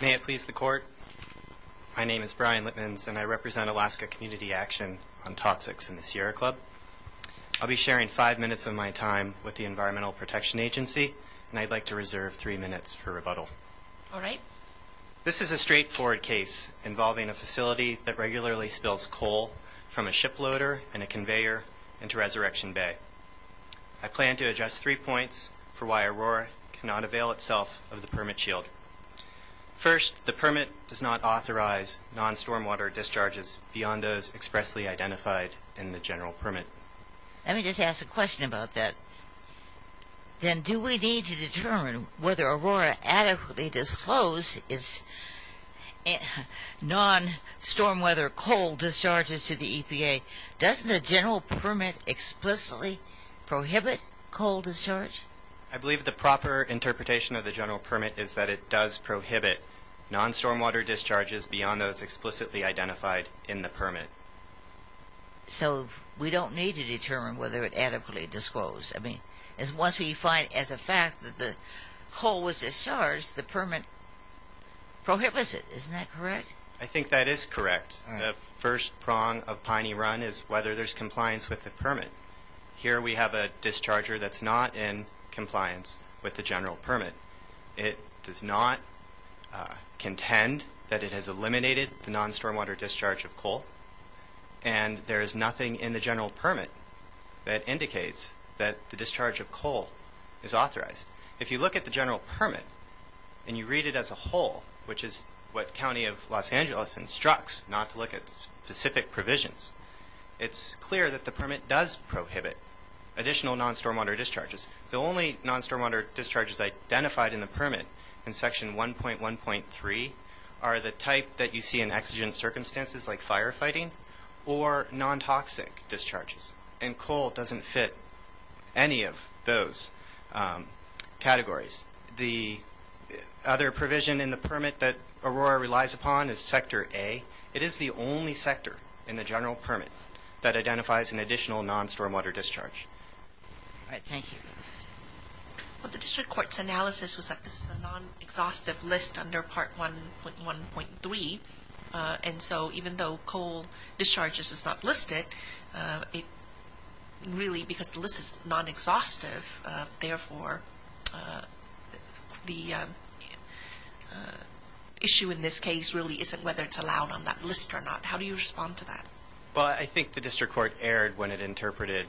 May it please the court, my name is Brian Litmans and I represent Alaska Community Action on Toxics in the Sierra Club. I'll be sharing five minutes of my time with the Environmental Protection Agency and I'd like to reserve three minutes for rebuttal. Alright. This is a straightforward case involving a facility that regularly spills coal from a shiploader and a conveyor into Resurrection Bay. I plan to address three points for why Aurora cannot avail itself of the permit shield. First, the permit does not authorize non-stormwater discharges beyond those expressly identified in the general permit. Let me just ask a question about that. Then do we need to determine whether Aurora adequately disclosed its non-stormwater coal discharges to the EPA? Does the general permit explicitly prohibit coal discharge? I believe the proper interpretation of the general permit is that it does prohibit non-stormwater discharges beyond those explicitly identified in the permit. So we don't need to determine whether it adequately disclosed. I mean, once we find as a fact that the coal was discharged, the permit prohibits it, isn't that correct? I think that is correct. The first prong of Piney Run is whether there's compliance with the permit. Here we have a discharger that's not in compliance with the general permit. It does not contend that it has eliminated the non-stormwater discharge of coal. And there is nothing in the general permit that indicates that the discharge of coal is authorized. If you look at the general permit and you read it as a whole, which is what County of Los Angeles instructs not to look at specific provisions, it's clear that the permit does prohibit additional non-stormwater discharges. The only non-stormwater discharges identified in the permit in Section 1.1.3 are the type that you see in exigent circumstances, like firefighting or nontoxic discharges. And coal doesn't fit any of those categories. The other provision in the permit that Aurora relies upon is Sector A. It is the only sector in the general permit that identifies an additional non-stormwater discharge. All right. Thank you. Well, the district court's analysis was that this is a non-exhaustive list under Part 1.1.3. And so even though coal discharges is not listed, really because the list is non-exhaustive, therefore the issue in this case really isn't whether it's allowed on that list or not. How do you respond to that? Well, I think the district court erred when it interpreted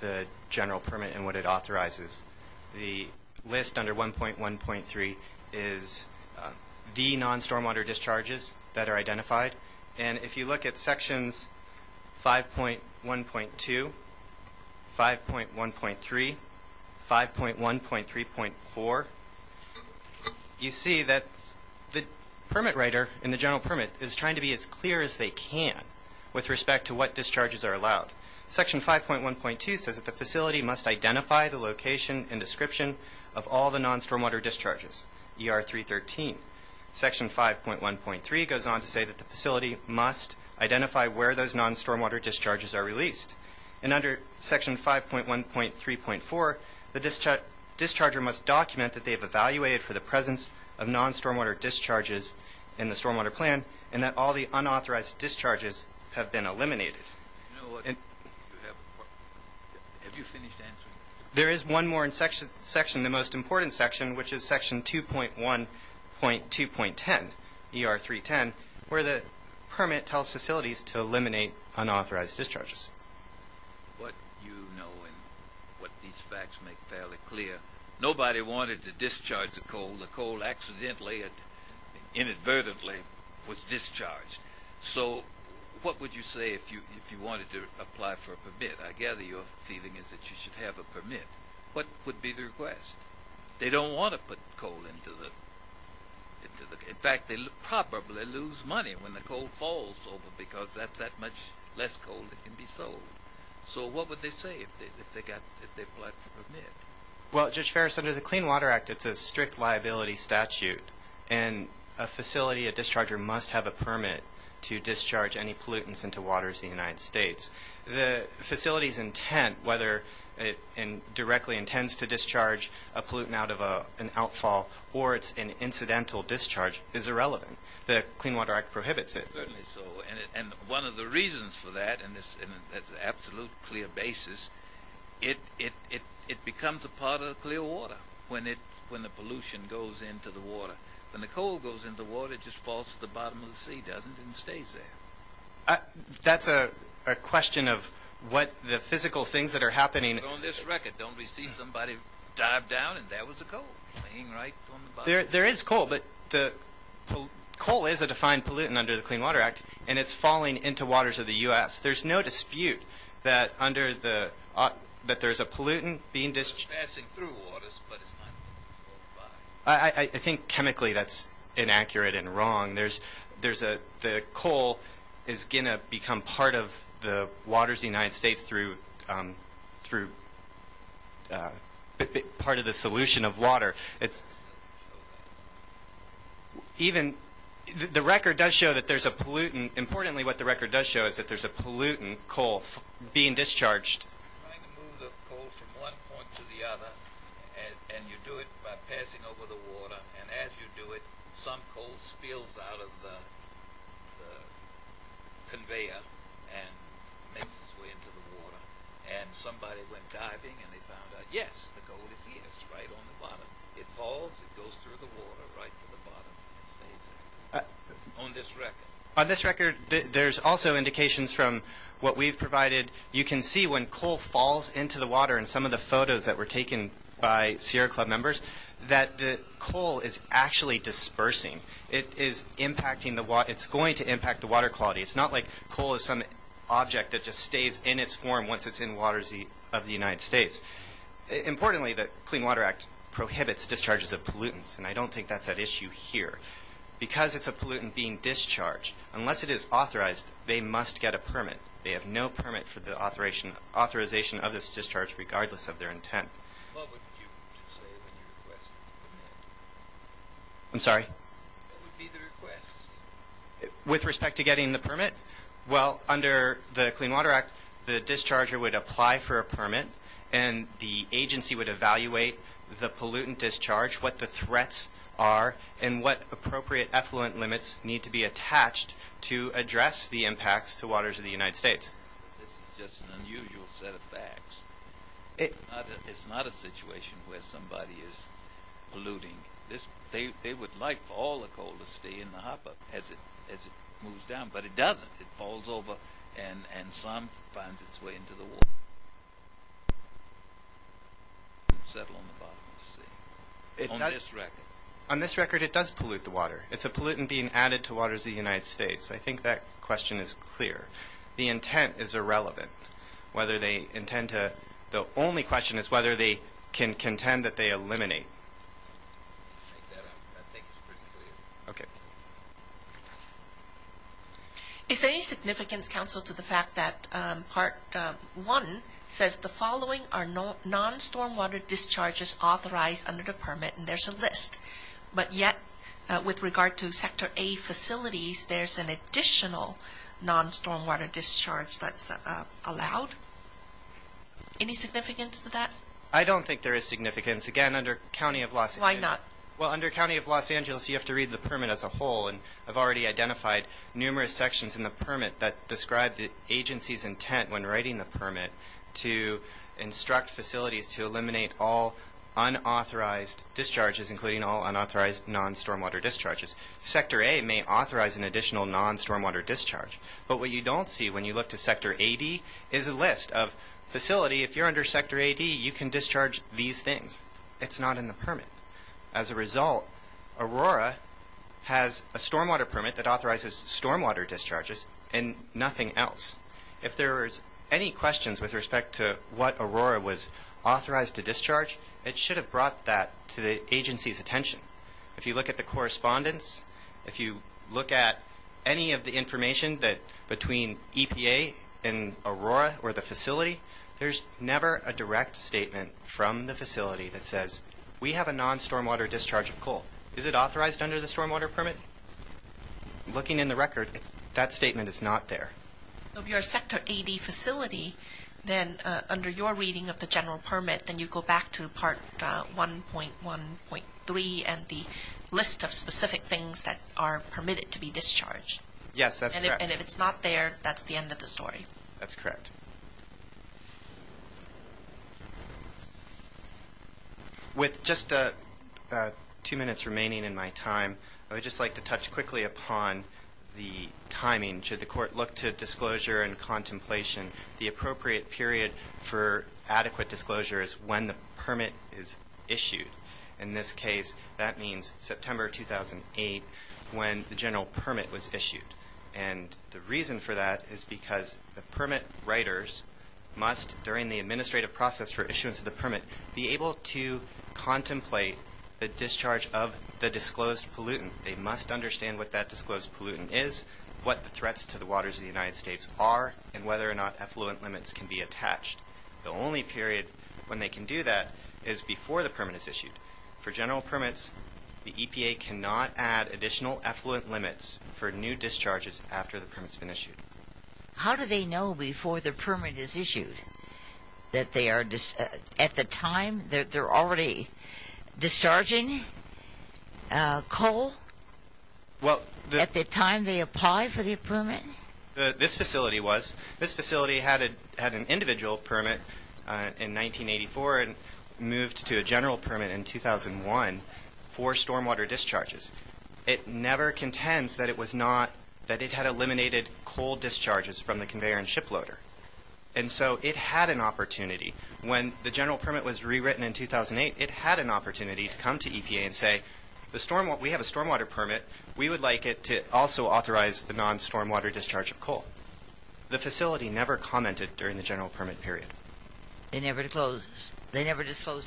the general permit and what it authorizes. The list under 1.1.3 is the non-stormwater discharges that are identified. And if you look at Sections 5.1.2, 5.1.3, 5.1.3.4, you see that the permit writer in the general permit is trying to be as clear as they can with respect to what discharges are allowed. Section 5.1.2 says that the facility must identify the location and description of all the non-stormwater discharges, ER 313. Section 5.1.3 goes on to say that the facility must identify where those non-stormwater discharges are released. And under Section 5.1.3.4, the discharger must document that they have evaluated for the presence of non-stormwater discharges in the stormwater plan and that all the unauthorized discharges have been eliminated. You know what? Have you finished answering? There is one more section, the most important section, which is Section 2.1.2.10, ER 310, where the permit tells facilities to eliminate unauthorized discharges. What you know and what these facts make fairly clear, nobody wanted to discharge the coal. The coal accidentally and inadvertently was discharged. So what would you say if you wanted to apply for a permit? I gather your feeling is that you should have a permit. What would be the request? They don't want to put coal into the – in fact, they probably lose money when the coal falls over because that's that much less coal that can be sold. So what would they say if they applied for a permit? Well, Judge Ferris, under the Clean Water Act, it's a strict liability statute, and a facility, a discharger must have a permit to discharge any pollutants into waters in the United States. The facility's intent, whether it directly intends to discharge a pollutant out of an outfall or it's an incidental discharge, is irrelevant. The Clean Water Act prohibits it. Certainly so, and one of the reasons for that, and that's an absolutely clear basis, it becomes a part of the clear water when the pollution goes into the water. When the coal goes into the water, it just falls to the bottom of the sea, doesn't it, and stays there. That's a question of what the physical things that are happening. But on this record, don't we see somebody dive down and there was a coal laying right on the bottom? There is coal, but coal is a defined pollutant under the Clean Water Act, and it's falling into waters of the U.S. There's no dispute that under the – that there's a pollutant being – It's passing through waters, but it's not falling by. I think chemically that's inaccurate and wrong. The coal is going to become part of the waters of the United States through part of the solution of water. The record does show that there's a pollutant. Importantly, what the record does show is that there's a pollutant, coal, being discharged. Trying to move the coal from one point to the other, and you do it by passing over the water, and as you do it, some coal spills out of the conveyor and makes its way into the water. And somebody went diving and they found out, yes, the coal is here. It's right on the bottom. It falls, it goes through the water right to the bottom and stays there on this record. On this record, there's also indications from what we've provided. You can see when coal falls into the water in some of the photos that were taken by Sierra Club members that the coal is actually dispersing. It's going to impact the water quality. It's not like coal is some object that just stays in its form once it's in waters of the United States. Importantly, the Clean Water Act prohibits discharges of pollutants, and I don't think that's at issue here. Because it's a pollutant being discharged, unless it is authorized, they must get a permit. They have no permit for the authorization of this discharge regardless of their intent. What would you say when you request the permit? I'm sorry? What would be the request? With respect to getting the permit? Well, under the Clean Water Act, the discharger would apply for a permit, and the agency would evaluate the pollutant discharge, what the threats are, and what appropriate effluent limits need to be attached to address the impacts to waters of the United States. This is just an unusual set of facts. It's not a situation where somebody is polluting. They would like for all the coal to stay in the hopper as it moves down, but it doesn't. It falls over, and some finds its way into the water and settle on the bottom of the sea. On this record? On this record, it does pollute the water. It's a pollutant being added to waters of the United States. I think that question is clear. The intent is irrelevant. The only question is whether they can contend that they eliminate. Make that up. I think it's pretty clear. Okay. Is there any significance, counsel, to the fact that Part 1 says, the following are non-stormwater discharges authorized under the permit, and there's a list. But yet, with regard to Sector A facilities, there's an additional non-stormwater discharge that's allowed. Any significance to that? I don't think there is significance. Again, under County of Los Angeles. Why not? Well, under County of Los Angeles, you have to read the permit as a whole, and I've already identified numerous sections in the permit that describe the agency's intent when writing the permit to instruct facilities to eliminate all unauthorized discharges, including all unauthorized non-stormwater discharges. Sector A may authorize an additional non-stormwater discharge, but what you don't see when you look to Sector A.D. is a list of facility. If you're under Sector A.D., you can discharge these things. It's not in the permit. As a result, Aurora has a stormwater permit that authorizes stormwater discharges and nothing else. If there's any questions with respect to what Aurora was authorized to discharge, it should have brought that to the agency's attention. If you look at the correspondence, if you look at any of the information between EPA and Aurora or the facility, there's never a direct statement from the facility that says we have a non-stormwater discharge of coal. Is it authorized under the stormwater permit? Looking in the record, that statement is not there. If you're a Sector A.D. facility, then under your reading of the general permit, then you go back to Part 1.1.3 and the list of specific things that are permitted to be discharged. Yes, that's correct. And if it's not there, that's the end of the story. That's correct. With just two minutes remaining in my time, I would just like to touch quickly upon the timing. Should the court look to disclosure and contemplation, the appropriate period for adequate disclosure is when the permit is issued. In this case, that means September 2008 when the general permit was issued. And the reason for that is because the permit writers must, during the administrative process for issuance of the permit, be able to contemplate the discharge of the disclosed pollutant. They must understand what that disclosed pollutant is, what the threats to the waters of the United States are, and whether or not effluent limits can be attached. The only period when they can do that is before the permit is issued. For general permits, the EPA cannot add additional effluent limits for new discharges after the permit's been issued. How do they know before the permit is issued that they are at the time that they're already discharging coal at the time they apply for the permit? This facility was. This facility had an individual permit in 1984 and moved to a general permit in 2001 for stormwater discharges. It never contends that it had eliminated coal discharges from the conveyor and shiploader. And so it had an opportunity. When the general permit was rewritten in 2008, it had an opportunity to come to EPA and say, we have a stormwater permit. We would like it to also authorize the non-stormwater discharge of coal. The facility never commented during the general permit period. They never disclosed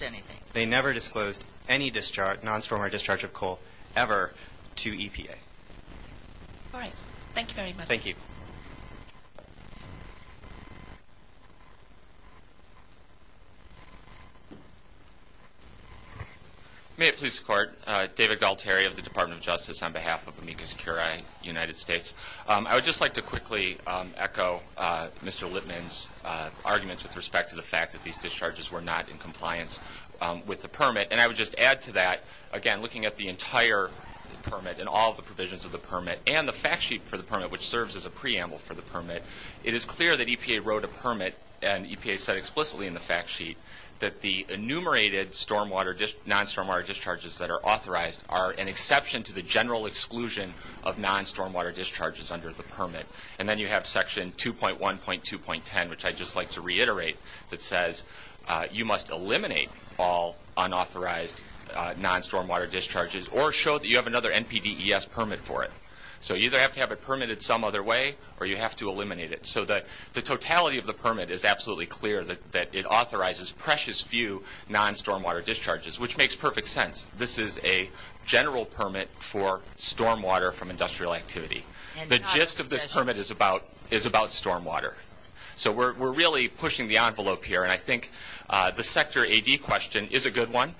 anything. They never disclosed any non-stormwater discharge of coal ever to EPA. All right. Thank you very much. Thank you. Thank you. May it please the Court. David Galtieri of the Department of Justice on behalf of Amicus Curia United States. I would just like to quickly echo Mr. Lippman's arguments with respect to the fact that these discharges were not in compliance with the permit. And I would just add to that, again, looking at the entire permit and all of the provisions of the permit and the fact sheet for the permit, which serves as a preamble for the permit, it is clear that EPA wrote a permit and EPA said explicitly in the fact sheet that the enumerated non-stormwater discharges that are authorized are an exception to the general exclusion of non-stormwater discharges under the permit. And then you have Section 2.1.2.10, which I'd just like to reiterate, that says you must eliminate all unauthorized non-stormwater discharges or show that you have another NPDES permit for it. So you either have to have it permitted some other way or you have to eliminate it. So the totality of the permit is absolutely clear that it authorizes precious few non-stormwater discharges, which makes perfect sense. This is a general permit for stormwater from industrial activity. The gist of this permit is about stormwater. So we're really pushing the envelope here and I think the sector AD question is a good one.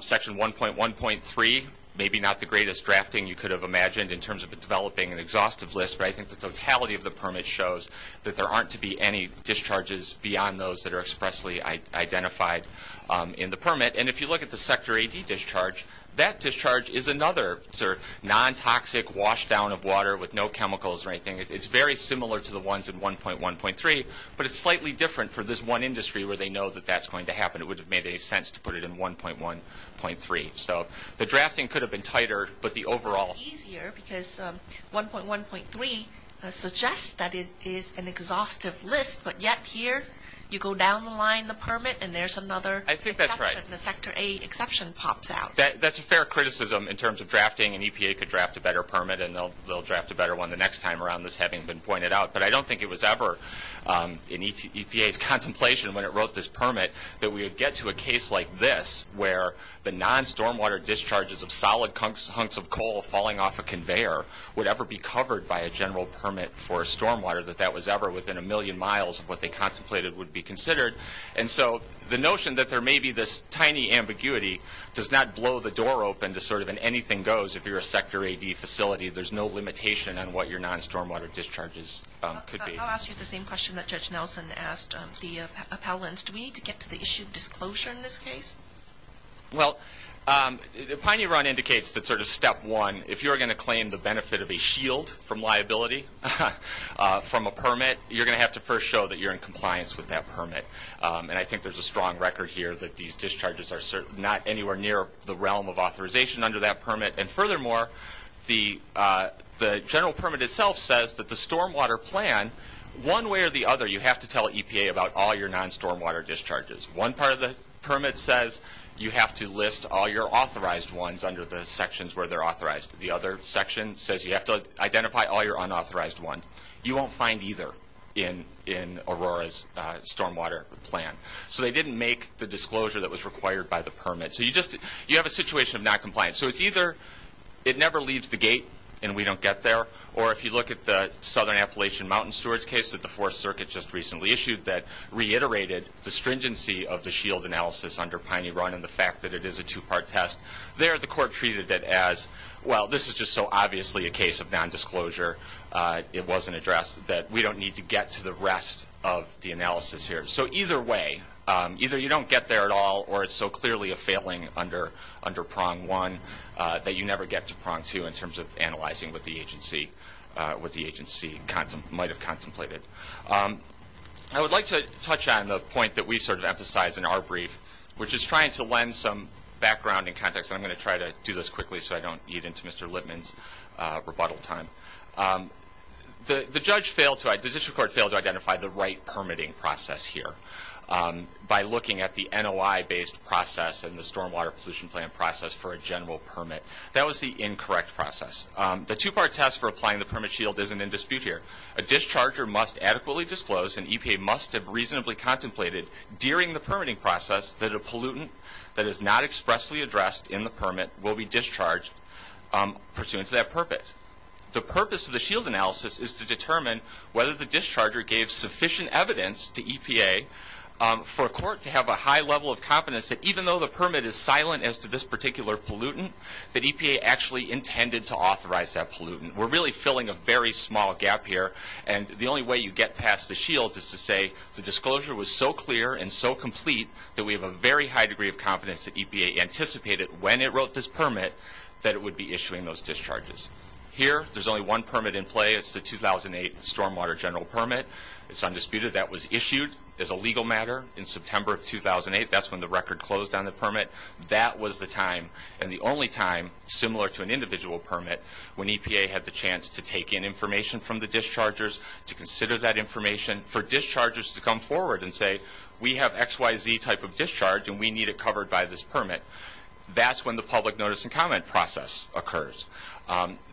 Section 1.1.3, maybe not the greatest drafting you could have imagined in terms of developing an exhaustive list, but I think the totality of the permit shows that there aren't to be any discharges beyond those that are expressly identified in the permit. And if you look at the sector AD discharge, that discharge is another sort of non-toxic washdown of water with no chemicals or anything. It's very similar to the ones in 1.1.3, but it's slightly different for this one industry where they know that that's going to happen. It wouldn't have made any sense to put it in 1.1.3. So the drafting could have been tighter, but the overall... Easier because 1.1.3 suggests that it is an exhaustive list, but yet here you go down the line, the permit, and there's another exception. I think that's right. The sector A exception pops out. That's a fair criticism in terms of drafting. An EPA could draft a better permit and they'll draft a better one the next time around, this having been pointed out. But I don't think it was ever in EPA's contemplation when it wrote this permit that we would get to a case like this where the non-stormwater discharges of solid hunks of coal falling off a conveyor would ever be covered by a general permit for stormwater, that that was ever within a million miles of what they contemplated would be considered. And so the notion that there may be this tiny ambiguity does not blow the door open to sort of an anything goes if you're a sector AD facility. There's no limitation on what your non-stormwater discharges could be. I'll ask you the same question that Judge Nelson asked the appellants. Do we need to get to the issue of disclosure in this case? Well, Piney Run indicates that sort of step one, if you're going to claim the benefit of a shield from liability from a permit, you're going to have to first show that you're in compliance with that permit. And I think there's a strong record here that these discharges are not anywhere near the realm of authorization under that permit. And furthermore, the general permit itself says that the stormwater plan, one way or the other, you have to tell EPA about all your non-stormwater discharges. One part of the permit says you have to list all your authorized ones under the sections where they're authorized. The other section says you have to identify all your unauthorized ones. You won't find either in Aurora's stormwater plan. So they didn't make the disclosure that was required by the permit. So you have a situation of noncompliance. So it's either it never leaves the gate and we don't get there, or if you look at the report that the Fourth Circuit just recently issued that reiterated the stringency of the shield analysis under Piney Run and the fact that it is a two-part test, there the court treated it as, well, this is just so obviously a case of nondisclosure, it wasn't addressed, that we don't need to get to the rest of the analysis here. So either way, either you don't get there at all or it's so clearly a failing under prong one that you never get to prong two in terms of analyzing what the agency might have contemplated. I would like to touch on the point that we sort of emphasize in our brief, which is trying to lend some background and context, and I'm going to try to do this quickly so I don't get into Mr. Litman's rebuttal time. The district court failed to identify the right permitting process here. By looking at the NOI-based process and the stormwater pollution plan process for a general permit, that was the incorrect process. The two-part test for applying the permit shield isn't in dispute here. A discharger must adequately disclose, and EPA must have reasonably contemplated, during the permitting process that a pollutant that is not expressly addressed in the permit will be discharged pursuant to that purpose. The purpose of the shield analysis is to determine whether the discharger gave sufficient evidence to EPA for a court to have a high level of confidence that even though the permit is silent as to this particular pollutant, that EPA actually intended to authorize that pollutant. We're really filling a very small gap here, and the only way you get past the shield is to say the disclosure was so clear and so complete that we have a very high degree of confidence that EPA anticipated when it wrote this permit that it would be issuing those discharges. Here, there's only one permit in play. It's the 2008 stormwater general permit. It's undisputed that was issued as a legal matter in September of 2008. That's when the record closed on the permit. That was the time and the only time, similar to an individual permit, when EPA had the chance to take in information from the dischargers, to consider that information for dischargers to come forward and say, we have XYZ type of discharge and we need it covered by this permit. That's when the public notice and comment process occurs.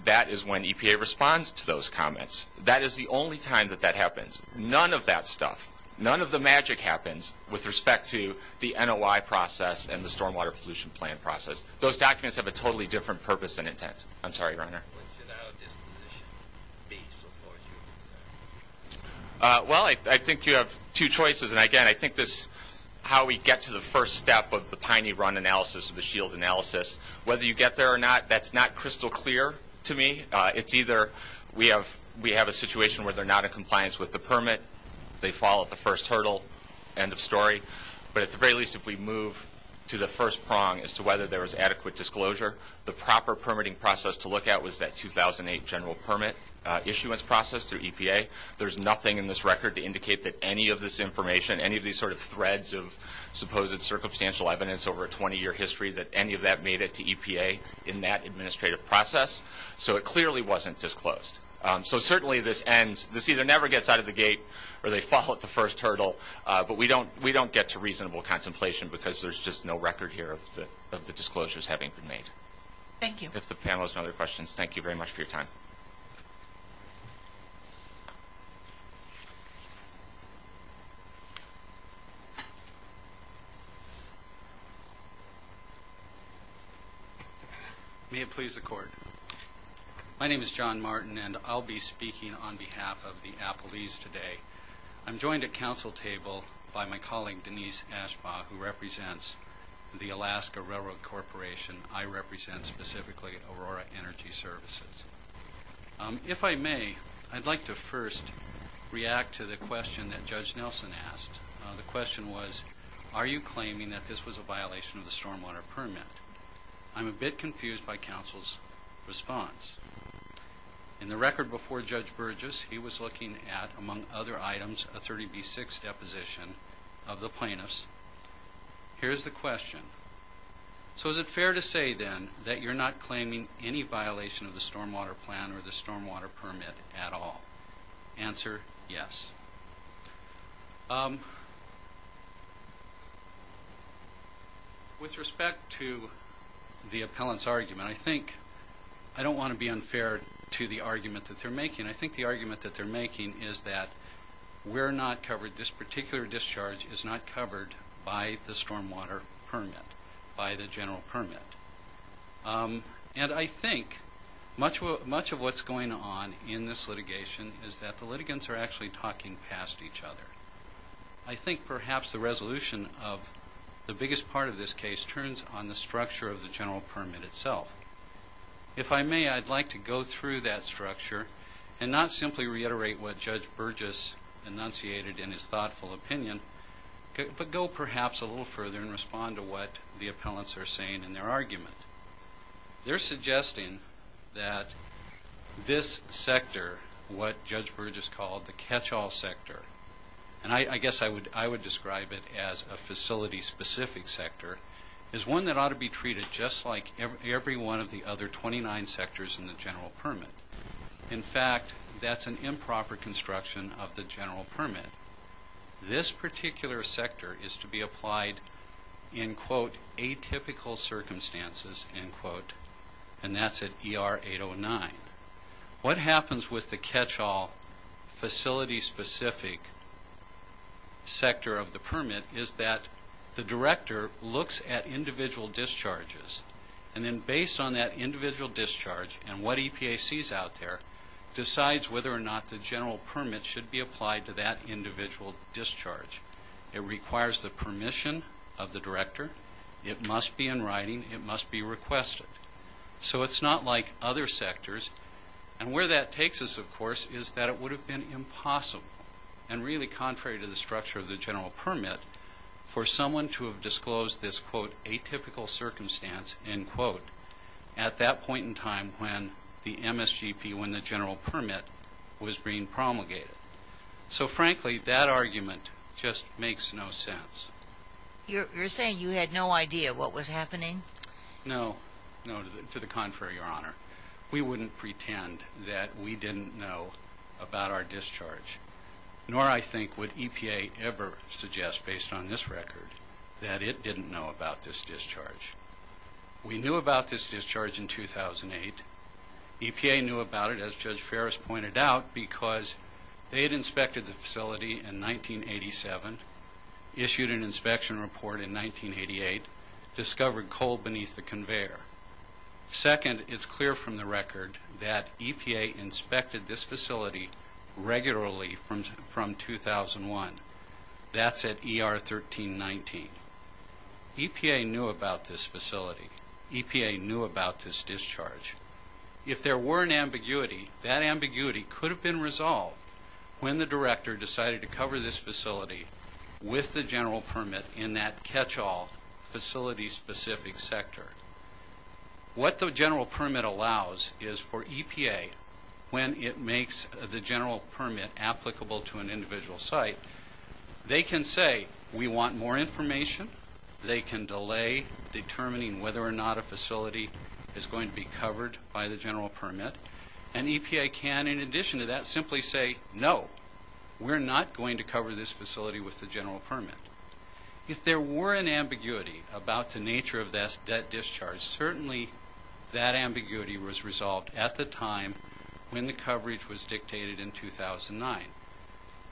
That is when EPA responds to those comments. That is the only time that that happens. None of that stuff, none of the magic happens with respect to the NOI process and the stormwater pollution plan process. Those documents have a totally different purpose and intent. I'm sorry, Your Honor. What should our disposition be so far as you're concerned? Well, I think you have two choices. Again, I think how we get to the first step of the Piney run analysis, the shield analysis, whether you get there or not, that's not crystal clear to me. It's either we have a situation where they're not in compliance with the permit, they fall at the first hurdle, end of story, but at the very least, if we move to the first prong as to whether there was adequate disclosure, the proper permitting process to look at was that 2008 general permit issuance process through EPA. There's nothing in this record to indicate that any of this information, any of these sort of threads of supposed circumstantial evidence over a 20-year history, that any of that made it to EPA in that administrative process. So it clearly wasn't disclosed. So certainly this ends, this either never gets out of the gate or they fall at the first hurdle, but we don't get to reasonable contemplation because there's just no record here of the disclosures having been made. Thank you. If the panel has no other questions, thank you very much for your time. May it please the Court. My name is John Martin, and I'll be speaking on behalf of the Appalese today. I'm joined at council table by my colleague, Denise Ashbaugh, who represents the Alaska Railroad Corporation. I represent specifically Aurora Energy Services. If I may, I'd like to first react to the question that Judge Nelson asked. The question was, are you claiming that this was a violation of the stormwater permit? I'm a bit confused by council's response. In the record before Judge Burgess, he was looking at, among other items, a 30B6 deposition of the plaintiffs. Here's the question. So is it fair to say then that you're not claiming any violation of the stormwater plan or the stormwater permit at all? Answer, yes. With respect to the appellant's argument, I think I don't want to be unfair to the argument that they're making. I think the argument that they're making is that we're not covered, this particular discharge is not covered by the stormwater permit, by the general permit. And I think much of what's going on in this litigation is that the litigants are actually talking past each other. I think perhaps the resolution of the biggest part of this case turns on the structure of the general permit itself. If I may, I'd like to go through that structure and not simply reiterate what Judge Burgess enunciated in his thoughtful opinion, but go perhaps a little further and respond to what the appellants are saying in their argument. They're suggesting that this sector, what Judge Burgess called the catch-all sector, and I guess I would describe it as a facility-specific sector, is one that ought to be treated just like every one of the other 29 sectors in the general permit. In fact, that's an improper construction of the general permit. This particular sector is to be applied in, quote, atypical circumstances, end quote, and that's at ER 809. What happens with the catch-all facility-specific sector of the permit is that the director looks at individual discharges. And then based on that individual discharge and what EPA sees out there, decides whether or not the general permit should be applied to that individual discharge. It requires the permission of the director. It must be in writing. It must be requested. So it's not like other sectors. And where that takes us, of course, is that it would have been impossible, and really contrary to the structure of the general permit, for someone to have disclosed this, quote, atypical circumstance, end quote, at that point in time when the MSGP, when the general permit was being promulgated. So, frankly, that argument just makes no sense. You're saying you had no idea what was happening? No, no, to the contrary, Your Honor. We wouldn't pretend that we didn't know about our discharge. Nor, I think, would EPA ever suggest, based on this record, that it didn't know about this discharge. We knew about this discharge in 2008. EPA knew about it, as Judge Ferris pointed out, because they had inspected the facility in 1987, issued an inspection report in 1988, discovered coal beneath the conveyor. Second, it's clear from the record that EPA inspected this facility regularly from 2001. That's at ER 1319. EPA knew about this facility. EPA knew about this discharge. If there were an ambiguity, that ambiguity could have been resolved when the director decided to cover this facility with the general permit in that catch-all facility-specific sector. What the general permit allows is, for EPA, when it makes the general permit applicable to an individual site, they can say, We want more information. They can delay determining whether or not a facility is going to be covered by the general permit. And EPA can, in addition to that, simply say, No, we're not going to cover this facility with the general permit. If there were an ambiguity about the nature of that discharge, certainly that ambiguity was resolved at the time when the coverage was dictated in 2009.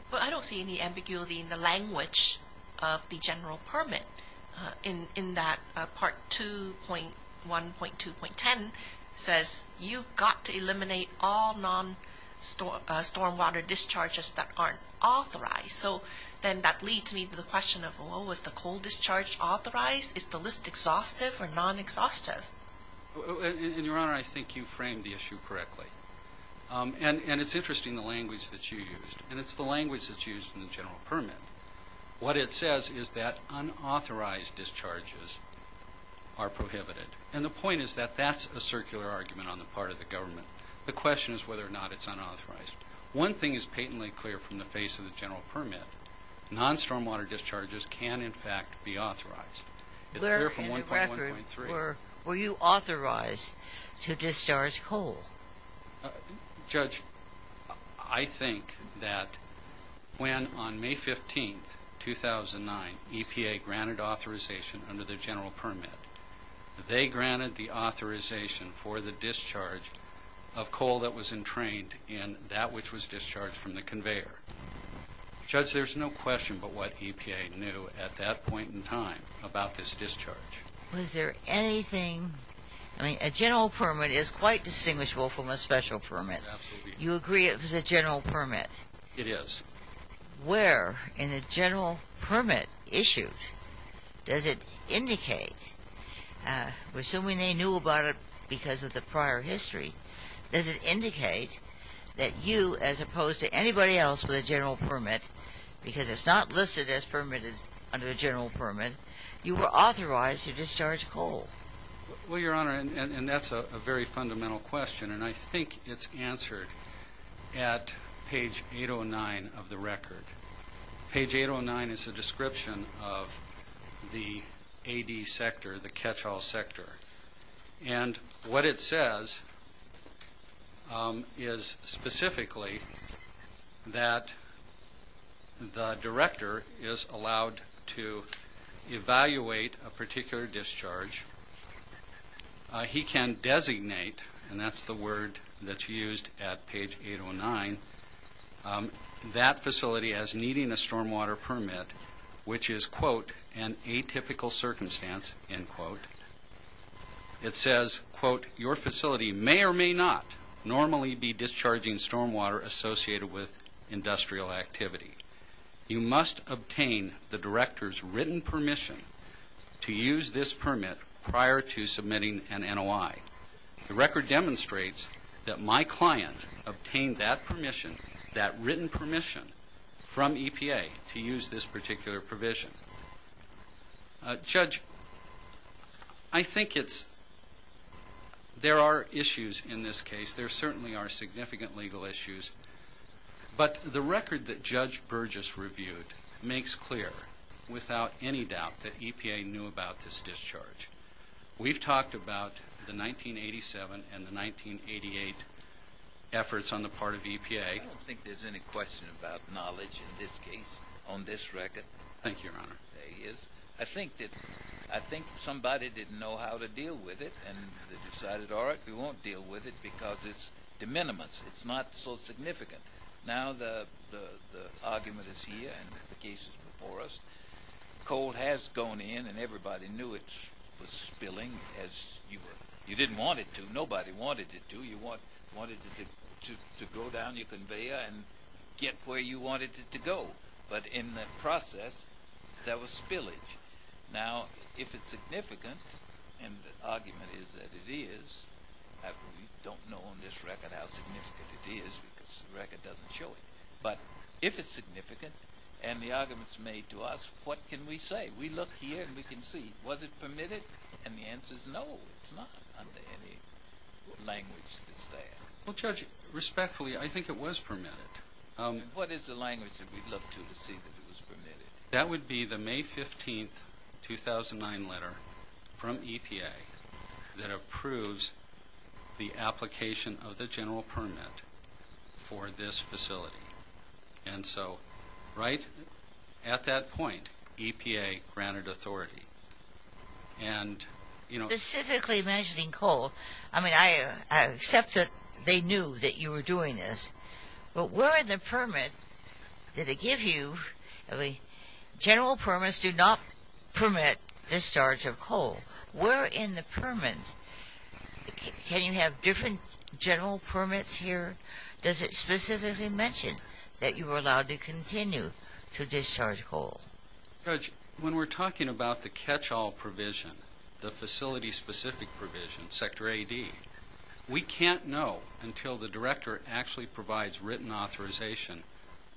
But I don't see any ambiguity in the language of the general permit in that Part 2.1.2.10 says, You've got to eliminate all non-stormwater discharges that aren't authorized. So then that leads me to the question of, Well, was the coal discharge authorized? Is the list exhaustive or non-exhaustive? And, Your Honor, I think you framed the issue correctly. And it's interesting, the language that you used. And it's the language that's used in the general permit. What it says is that unauthorized discharges are prohibited. And the point is that that's a circular argument on the part of the government. The question is whether or not it's unauthorized. One thing is patently clear from the face of the general permit. Non-stormwater discharges can, in fact, be authorized. It's clear from 1.1.3. Were you authorized to discharge coal? Judge, I think that when on May 15, 2009, EPA granted authorization under the general permit, they granted the authorization for the discharge of coal that was entrained in that which was discharged from the conveyor. Judge, there's no question but what EPA knew at that point in time about this discharge. Was there anything? I mean, a general permit is quite distinguishable from a special permit. You agree it was a general permit? It is. Where in a general permit issued does it indicate, assuming they knew about it because of the prior history, does it indicate that you, as opposed to anybody else with a general permit, because it's not listed as permitted under the general permit, you were authorized to discharge coal? Well, Your Honor, and that's a very fundamental question, and I think it's answered at page 809 of the record. Page 809 is a description of the AD sector, the catch-all sector. And what it says is specifically that the director is allowed to evaluate a particular discharge. He can designate, and that's the word that's used at page 809, that facility as needing a stormwater permit, which is, quote, an atypical circumstance, end quote. It says, quote, your facility may or may not normally be discharging stormwater associated with industrial activity. You must obtain the director's written permission to use this permit prior to submitting an NOI. The record demonstrates that my client obtained that permission, that written permission from EPA to use this particular provision. Judge, I think there are issues in this case. There certainly are significant legal issues. But the record that Judge Burgess reviewed makes clear, without any doubt, that EPA knew about this discharge. We've talked about the 1987 and the 1988 efforts on the part of EPA. I don't think there's any question about knowledge in this case on this record. Thank you, Your Honor. There is. I think somebody didn't know how to deal with it and they decided, all right, we won't deal with it because it's de minimis. It's not so significant. Now the argument is here and the case is before us. Coal has gone in and everybody knew it was spilling. You didn't want it to. Nobody wanted it to. You wanted it to go down your conveyor and get where you wanted it to go. But in the process, there was spillage. Now if it's significant, and the argument is that it is, we don't know on this record how significant it is because the record doesn't show it. But if it's significant and the argument is made to us, what can we say? We look here and we can see, was it permitted? And the answer is no, it's not under any language that's there. Well, Judge, respectfully, I think it was permitted. What is the language that we look to to see that it was permitted? That would be the May 15, 2009 letter from EPA that approves the application of the general permit for this facility. And so right at that point, EPA granted authority. Specifically mentioning coal, I mean, I accept that they knew that you were doing this, but where in the permit did it give you? General permits do not permit discharge of coal. Where in the permit? Can you have different general permits here? Does it specifically mention that you were allowed to continue to discharge coal? Judge, when we're talking about the catch-all provision, the facility-specific provision, Sector AD, we can't know until the director actually provides written authorization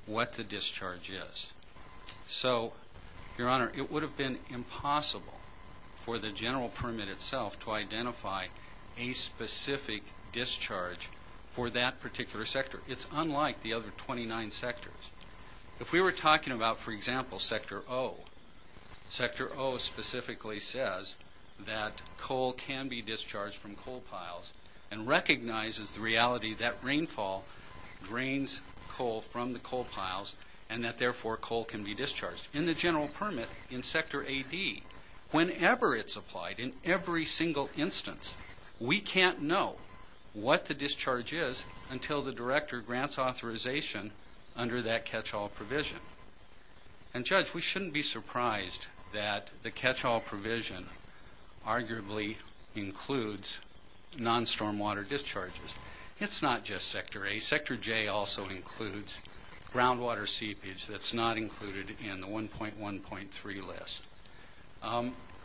what the discharge is. So, Your Honor, it would have been impossible for the general permit itself to identify a specific discharge for that particular sector. It's unlike the other 29 sectors. If we were talking about, for example, Sector O, Sector O specifically says that coal can be discharged from coal piles and recognizes the reality that rainfall drains coal from the coal piles and that, therefore, coal can be discharged. In the general permit in Sector AD, whenever it's applied, in every single instance, we can't know what the discharge is until the director grants authorization under that catch-all provision. And, Judge, we shouldn't be surprised that the catch-all provision arguably includes non-stormwater discharges. It's not just Sector A. Sector J also includes groundwater seepage that's not included in the 1.1.3 list.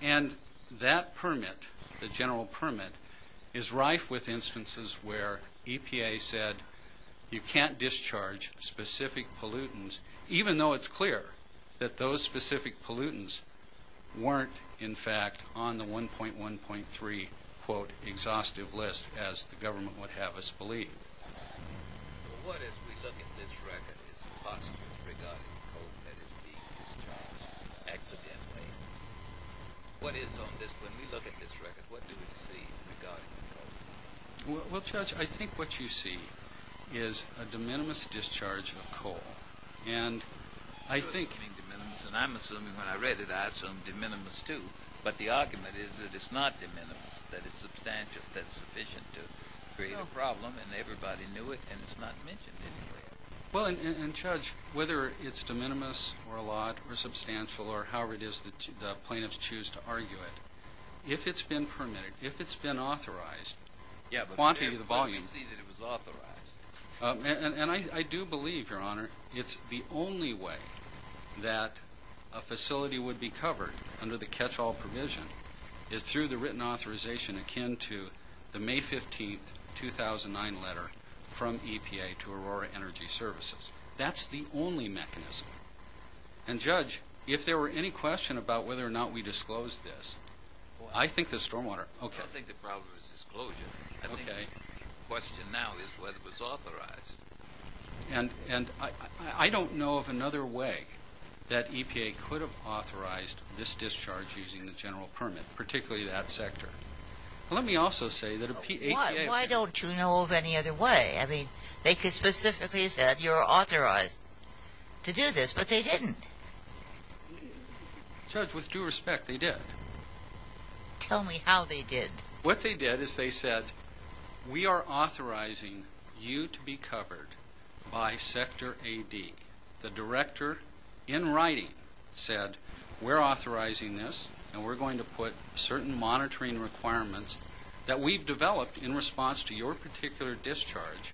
And that permit, the general permit, is rife with instances where EPA said you can't discharge specific pollutants even though it's clear that those specific pollutants weren't, in fact, on the 1.1.3, quote, exhaustive list as the government would have us believe. What, as we look at this record, is impossible regarding coal that is being discharged accidentally? What is on this? When we look at this record, what do we see regarding coal? Well, Judge, I think what you see is a de minimis discharge of coal. And I think- You're assuming de minimis, and I'm assuming when I read it, I assumed de minimis too. But the argument is that it's not de minimis, that it's substantial, that it's sufficient to create a problem, and everybody knew it, and it's not mentioned anywhere. Well, and, Judge, whether it's de minimis or a lot or substantial or however it is that the plaintiffs choose to argue it, if it's been permitted, if it's been authorized, quantity of the volume- Yeah, but let me see that it was authorized. And I do believe, Your Honor, it's the only way that a facility would be covered under the catch-all provision is through the written authorization akin to the May 15, 2009 letter from EPA to Aurora Energy Services. That's the only mechanism. And, Judge, if there were any question about whether or not we disclosed this, I think the stormwater- I don't think the problem is disclosure. I think the question now is whether it was authorized. And I don't know of another way that EPA could have authorized this discharge using the general permit, particularly that sector. Let me also say that EPA- Why don't you know of any other way? I mean, they could specifically have said, You're authorized to do this, but they didn't. Judge, with due respect, they did. Tell me how they did. What they did is they said, We are authorizing you to be covered by Sector AD. The director, in writing, said, We're authorizing this, and we're going to put certain monitoring requirements that we've developed in response to your particular discharge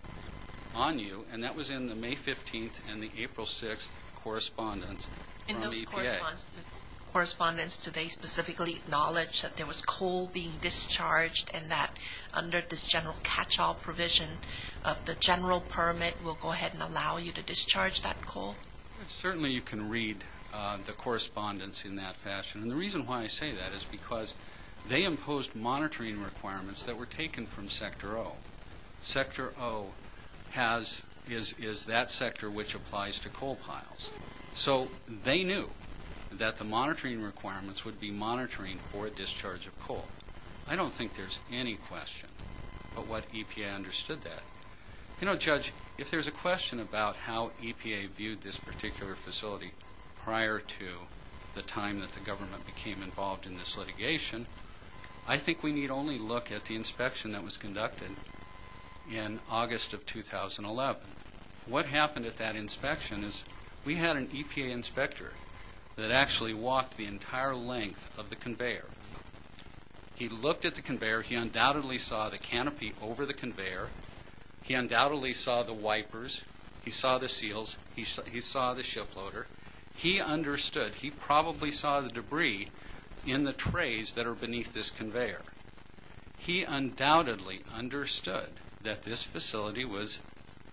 on you, and that was in the May 15 and the April 6 correspondence from EPA. Correspondence, do they specifically acknowledge that there was coal being discharged and that under this general catch-all provision of the general permit will go ahead and allow you to discharge that coal? Certainly you can read the correspondence in that fashion. And the reason why I say that is because they imposed monitoring requirements that were taken from Sector O. Sector O is that sector which applies to coal piles. So they knew that the monitoring requirements would be monitoring for discharge of coal. I don't think there's any question about what EPA understood that. You know, Judge, if there's a question about how EPA viewed this particular facility prior to the time that the government became involved in this litigation, I think we need only look at the inspection that was conducted in August of 2011. What happened at that inspection is we had an EPA inspector that actually walked the entire length of the conveyor. He looked at the conveyor. He undoubtedly saw the canopy over the conveyor. He undoubtedly saw the wipers. He saw the seals. He saw the shiploader. He understood. He probably saw the debris in the trays that are beneath this conveyor. He undoubtedly understood that this facility was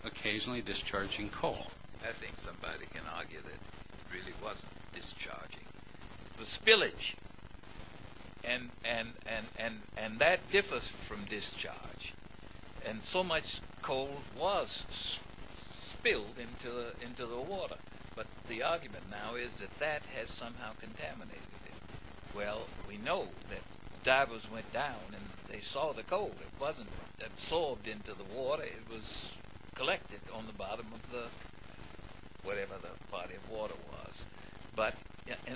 occasionally discharging coal. I think somebody can argue that it really was discharging. The spillage. And that differs from discharge. And so much coal was spilled into the water. But the argument now is that that has somehow contaminated it. Well, we know that divers went down and they saw the coal. It wasn't absorbed into the water. It was collected on the bottom of the whatever the body of water was. But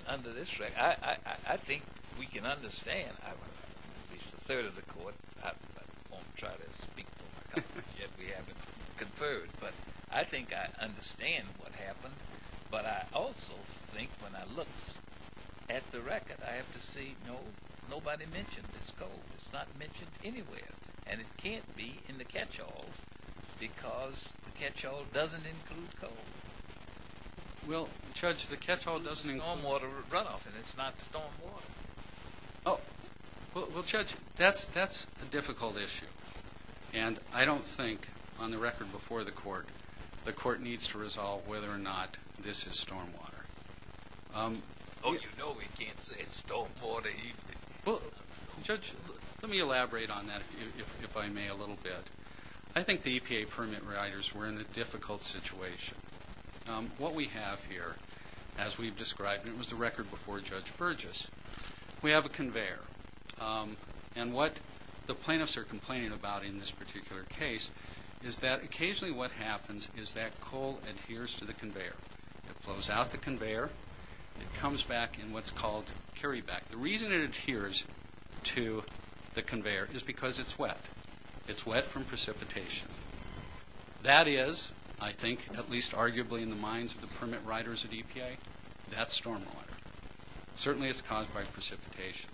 under this record, I think we can understand. I'm at least a third of the court. I won't try to speak for my colleagues yet. We haven't conferred. But I think I understand what happened. But I also think when I look at the record, I have to say nobody mentioned this coal. It's not mentioned anywhere. And it can't be in the catchall because the catchall doesn't include coal. Well, Judge, the catchall doesn't include. Stormwater runoff, and it's not stormwater. Well, Judge, that's a difficult issue. And I don't think, on the record before the court, the court needs to resolve whether or not this is stormwater. Oh, you know we can't say stormwater either. Well, Judge, let me elaborate on that, if I may, a little bit. I think the EPA permit riders were in a difficult situation. What we have here, as we've described, and it was the record before Judge Burgess, we have a conveyor. And what the plaintiffs are complaining about in this particular case is that occasionally what happens is that coal adheres to the conveyor. It flows out the conveyor. It comes back in what's called carryback. The reason it adheres to the conveyor is because it's wet. It's wet from precipitation. That is, I think, at least arguably in the minds of the permit riders at EPA, that's stormwater. Certainly it's caused by precipitation.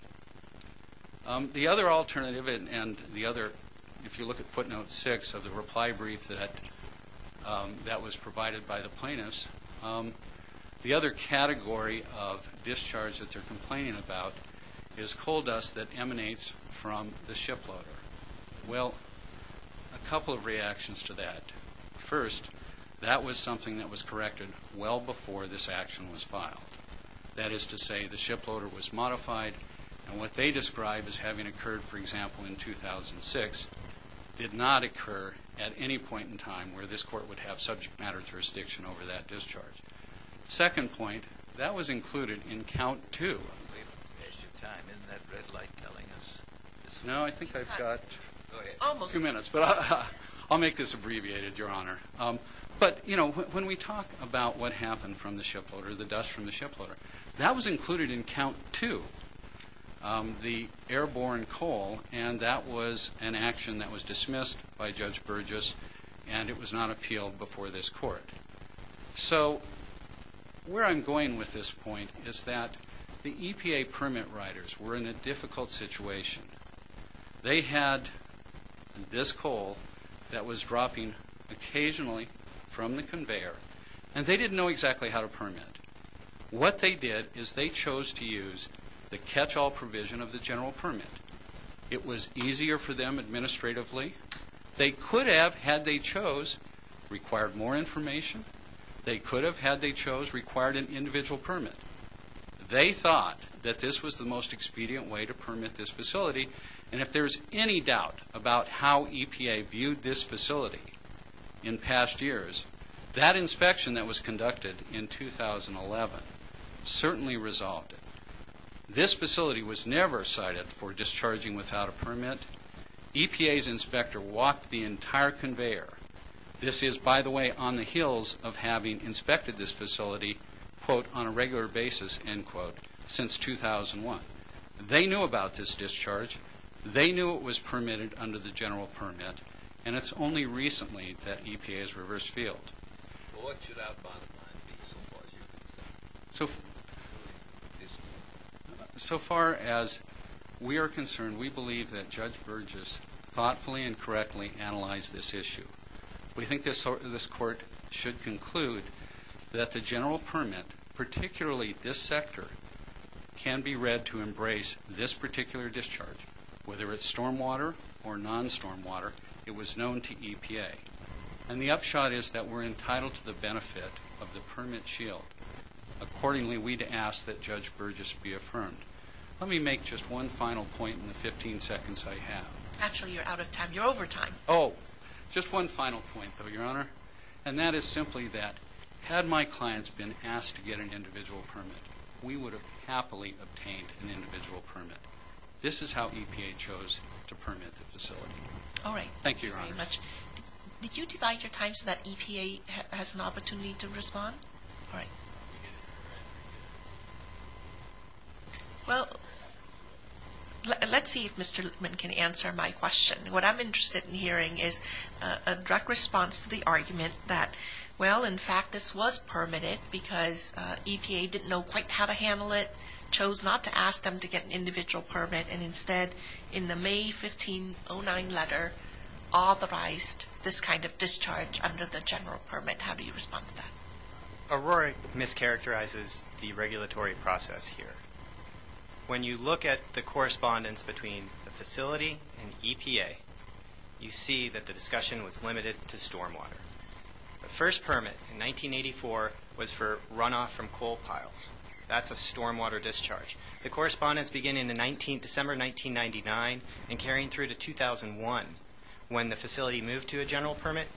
The other alternative and the other, if you look at footnote six of the reply brief that was provided by the plaintiffs, the other category of discharge that they're complaining about is coal dust that emanates from the shiploader. Well, a couple of reactions to that. First, that was something that was corrected well before this action was filed. That is to say the shiploader was modified, and what they describe as having occurred, for example, in 2006, did not occur at any point in time where this court would have subject matter jurisdiction over that discharge. Second point, that was included in count two. Is your time in that red light telling us? No, I think I've got two minutes, but I'll make this abbreviated, Your Honor. But, you know, when we talk about what happened from the shiploader, the dust from the shiploader, that was included in count two, the airborne coal, and that was an action that was dismissed by Judge Burgess, and it was not appealed before this court. So where I'm going with this point is that the EPA permit writers were in a difficult situation. They had this coal that was dropping occasionally from the conveyor, and they didn't know exactly how to permit. What they did is they chose to use the catch-all provision of the general permit. It was easier for them administratively. They could have, had they chose, required more information. They could have, had they chose, required an individual permit. They thought that this was the most expedient way to permit this facility, and if there's any doubt about how EPA viewed this facility in past years, that inspection that was conducted in 2011 certainly resolved it. This facility was never cited for discharging without a permit. EPA's inspector walked the entire conveyor. This is, by the way, on the heels of having inspected this facility, quote, on a regular basis, end quote, since 2001. They knew about this discharge. They knew it was permitted under the general permit, and it's only recently that EPA has reversed field. Well, what should our bottom line be so far as you're concerned? So far as we are concerned, we believe that Judge Burgess thoughtfully and correctly analyzed this issue. We think this court should conclude that the general permit, particularly this sector, can be read to embrace this particular discharge, whether it's stormwater or non-stormwater. It was known to EPA. And the upshot is that we're entitled to the benefit of the permit shield. Accordingly, we'd ask that Judge Burgess be affirmed. Let me make just one final point in the 15 seconds I have. Actually, you're out of time. You're over time. Oh, just one final point, though, Your Honor, and that is simply that had my clients been asked to get an individual permit, we would have happily obtained an individual permit. This is how EPA chose to permit the facility. All right. Thank you, Your Honor. Thank you very much. Did you divide your time so that EPA has an opportunity to respond? All right. Well, let's see if Mr. Lichtman can answer my question. What I'm interested in hearing is a direct response to the argument that, well, in fact, this was permitted because EPA didn't know quite how to handle it, chose not to ask them to get an individual permit, and instead in the May 1509 letter authorized this kind of discharge under the general permit. How do you respond to that? Aurora mischaracterizes the regulatory process here. When you look at the correspondence between the facility and EPA, you see that the discussion was limited to stormwater. The first permit in 1984 was for runoff from coal piles. That's a stormwater discharge. The correspondence began in December 1999 and carrying through to 2001. When the facility moved to a general permit,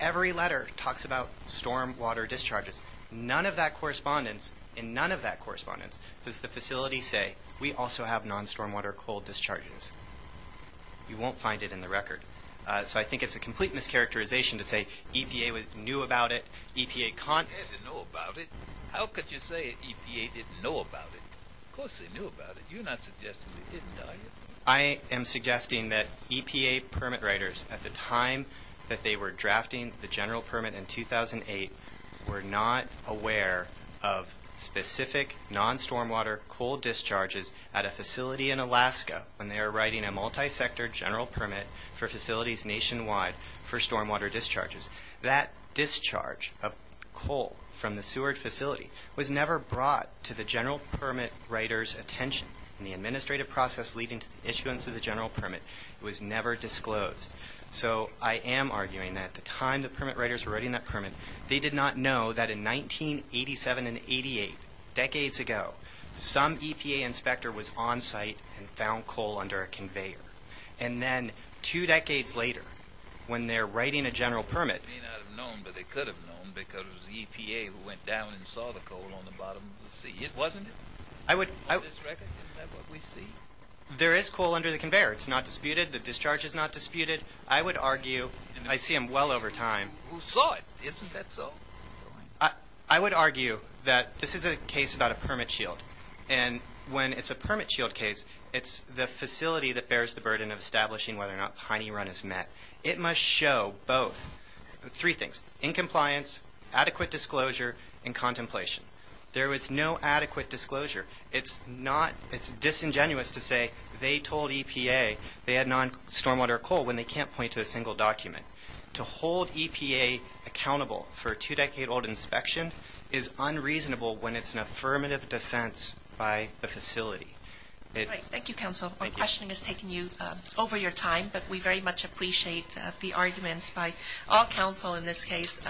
every letter talks about stormwater discharges. None of that correspondence, in none of that correspondence, does the facility say we also have non-stormwater coal discharges. You won't find it in the record. So I think it's a complete mischaracterization to say EPA knew about it. EPA didn't know about it. How could you say EPA didn't know about it? Of course they knew about it. You're not suggesting they didn't, are you? I am suggesting that EPA permit writers, at the time that they were drafting the general permit in 2008, were not aware of specific non-stormwater coal discharges at a facility in Alaska when they were writing a multi-sector general permit for facilities nationwide for stormwater discharges. That discharge of coal from the sewerage facility was never brought to the general permit writer's attention. In the administrative process leading to the issuance of the general permit, it was never disclosed. So I am arguing that at the time the permit writers were writing that permit, they did not know that in 1987 and 1988, decades ago, some EPA inspector was on site and found coal under a conveyor. And then two decades later, when they're writing a general permit... They may not have known, but they could have known because it was EPA who went down and saw the coal on the bottom of the sea. Wasn't it? I would... Isn't that what we see? There is coal under the conveyor. It's not disputed. The discharge is not disputed. I would argue... I see them well over time. Who saw it? Isn't that so? I would argue that this is a case about a permit shield. And when it's a permit shield case, it's the facility that bears the burden of establishing whether or not Piney Run is met. It must show both three things. Incompliance, adequate disclosure, and contemplation. There was no adequate disclosure. It's not... It's disingenuous to say they told EPA they had non-stormwater coal when they can't point to a single document. To hold EPA accountable for a two-decade-old inspection is unreasonable when it's an affirmative defense by the facility. Thank you, counsel. Our questioning has taken you over your time, but we very much appreciate the arguments by all counsel in this case.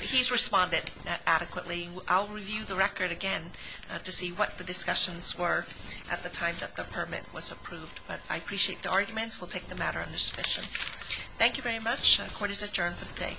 He's responded adequately. I'll review the record again to see what the discussions were at the time that the permit was approved. But I appreciate the arguments. We'll take the matter under submission. Thank you very much. Court is adjourned for the day. Thank you. Thank you.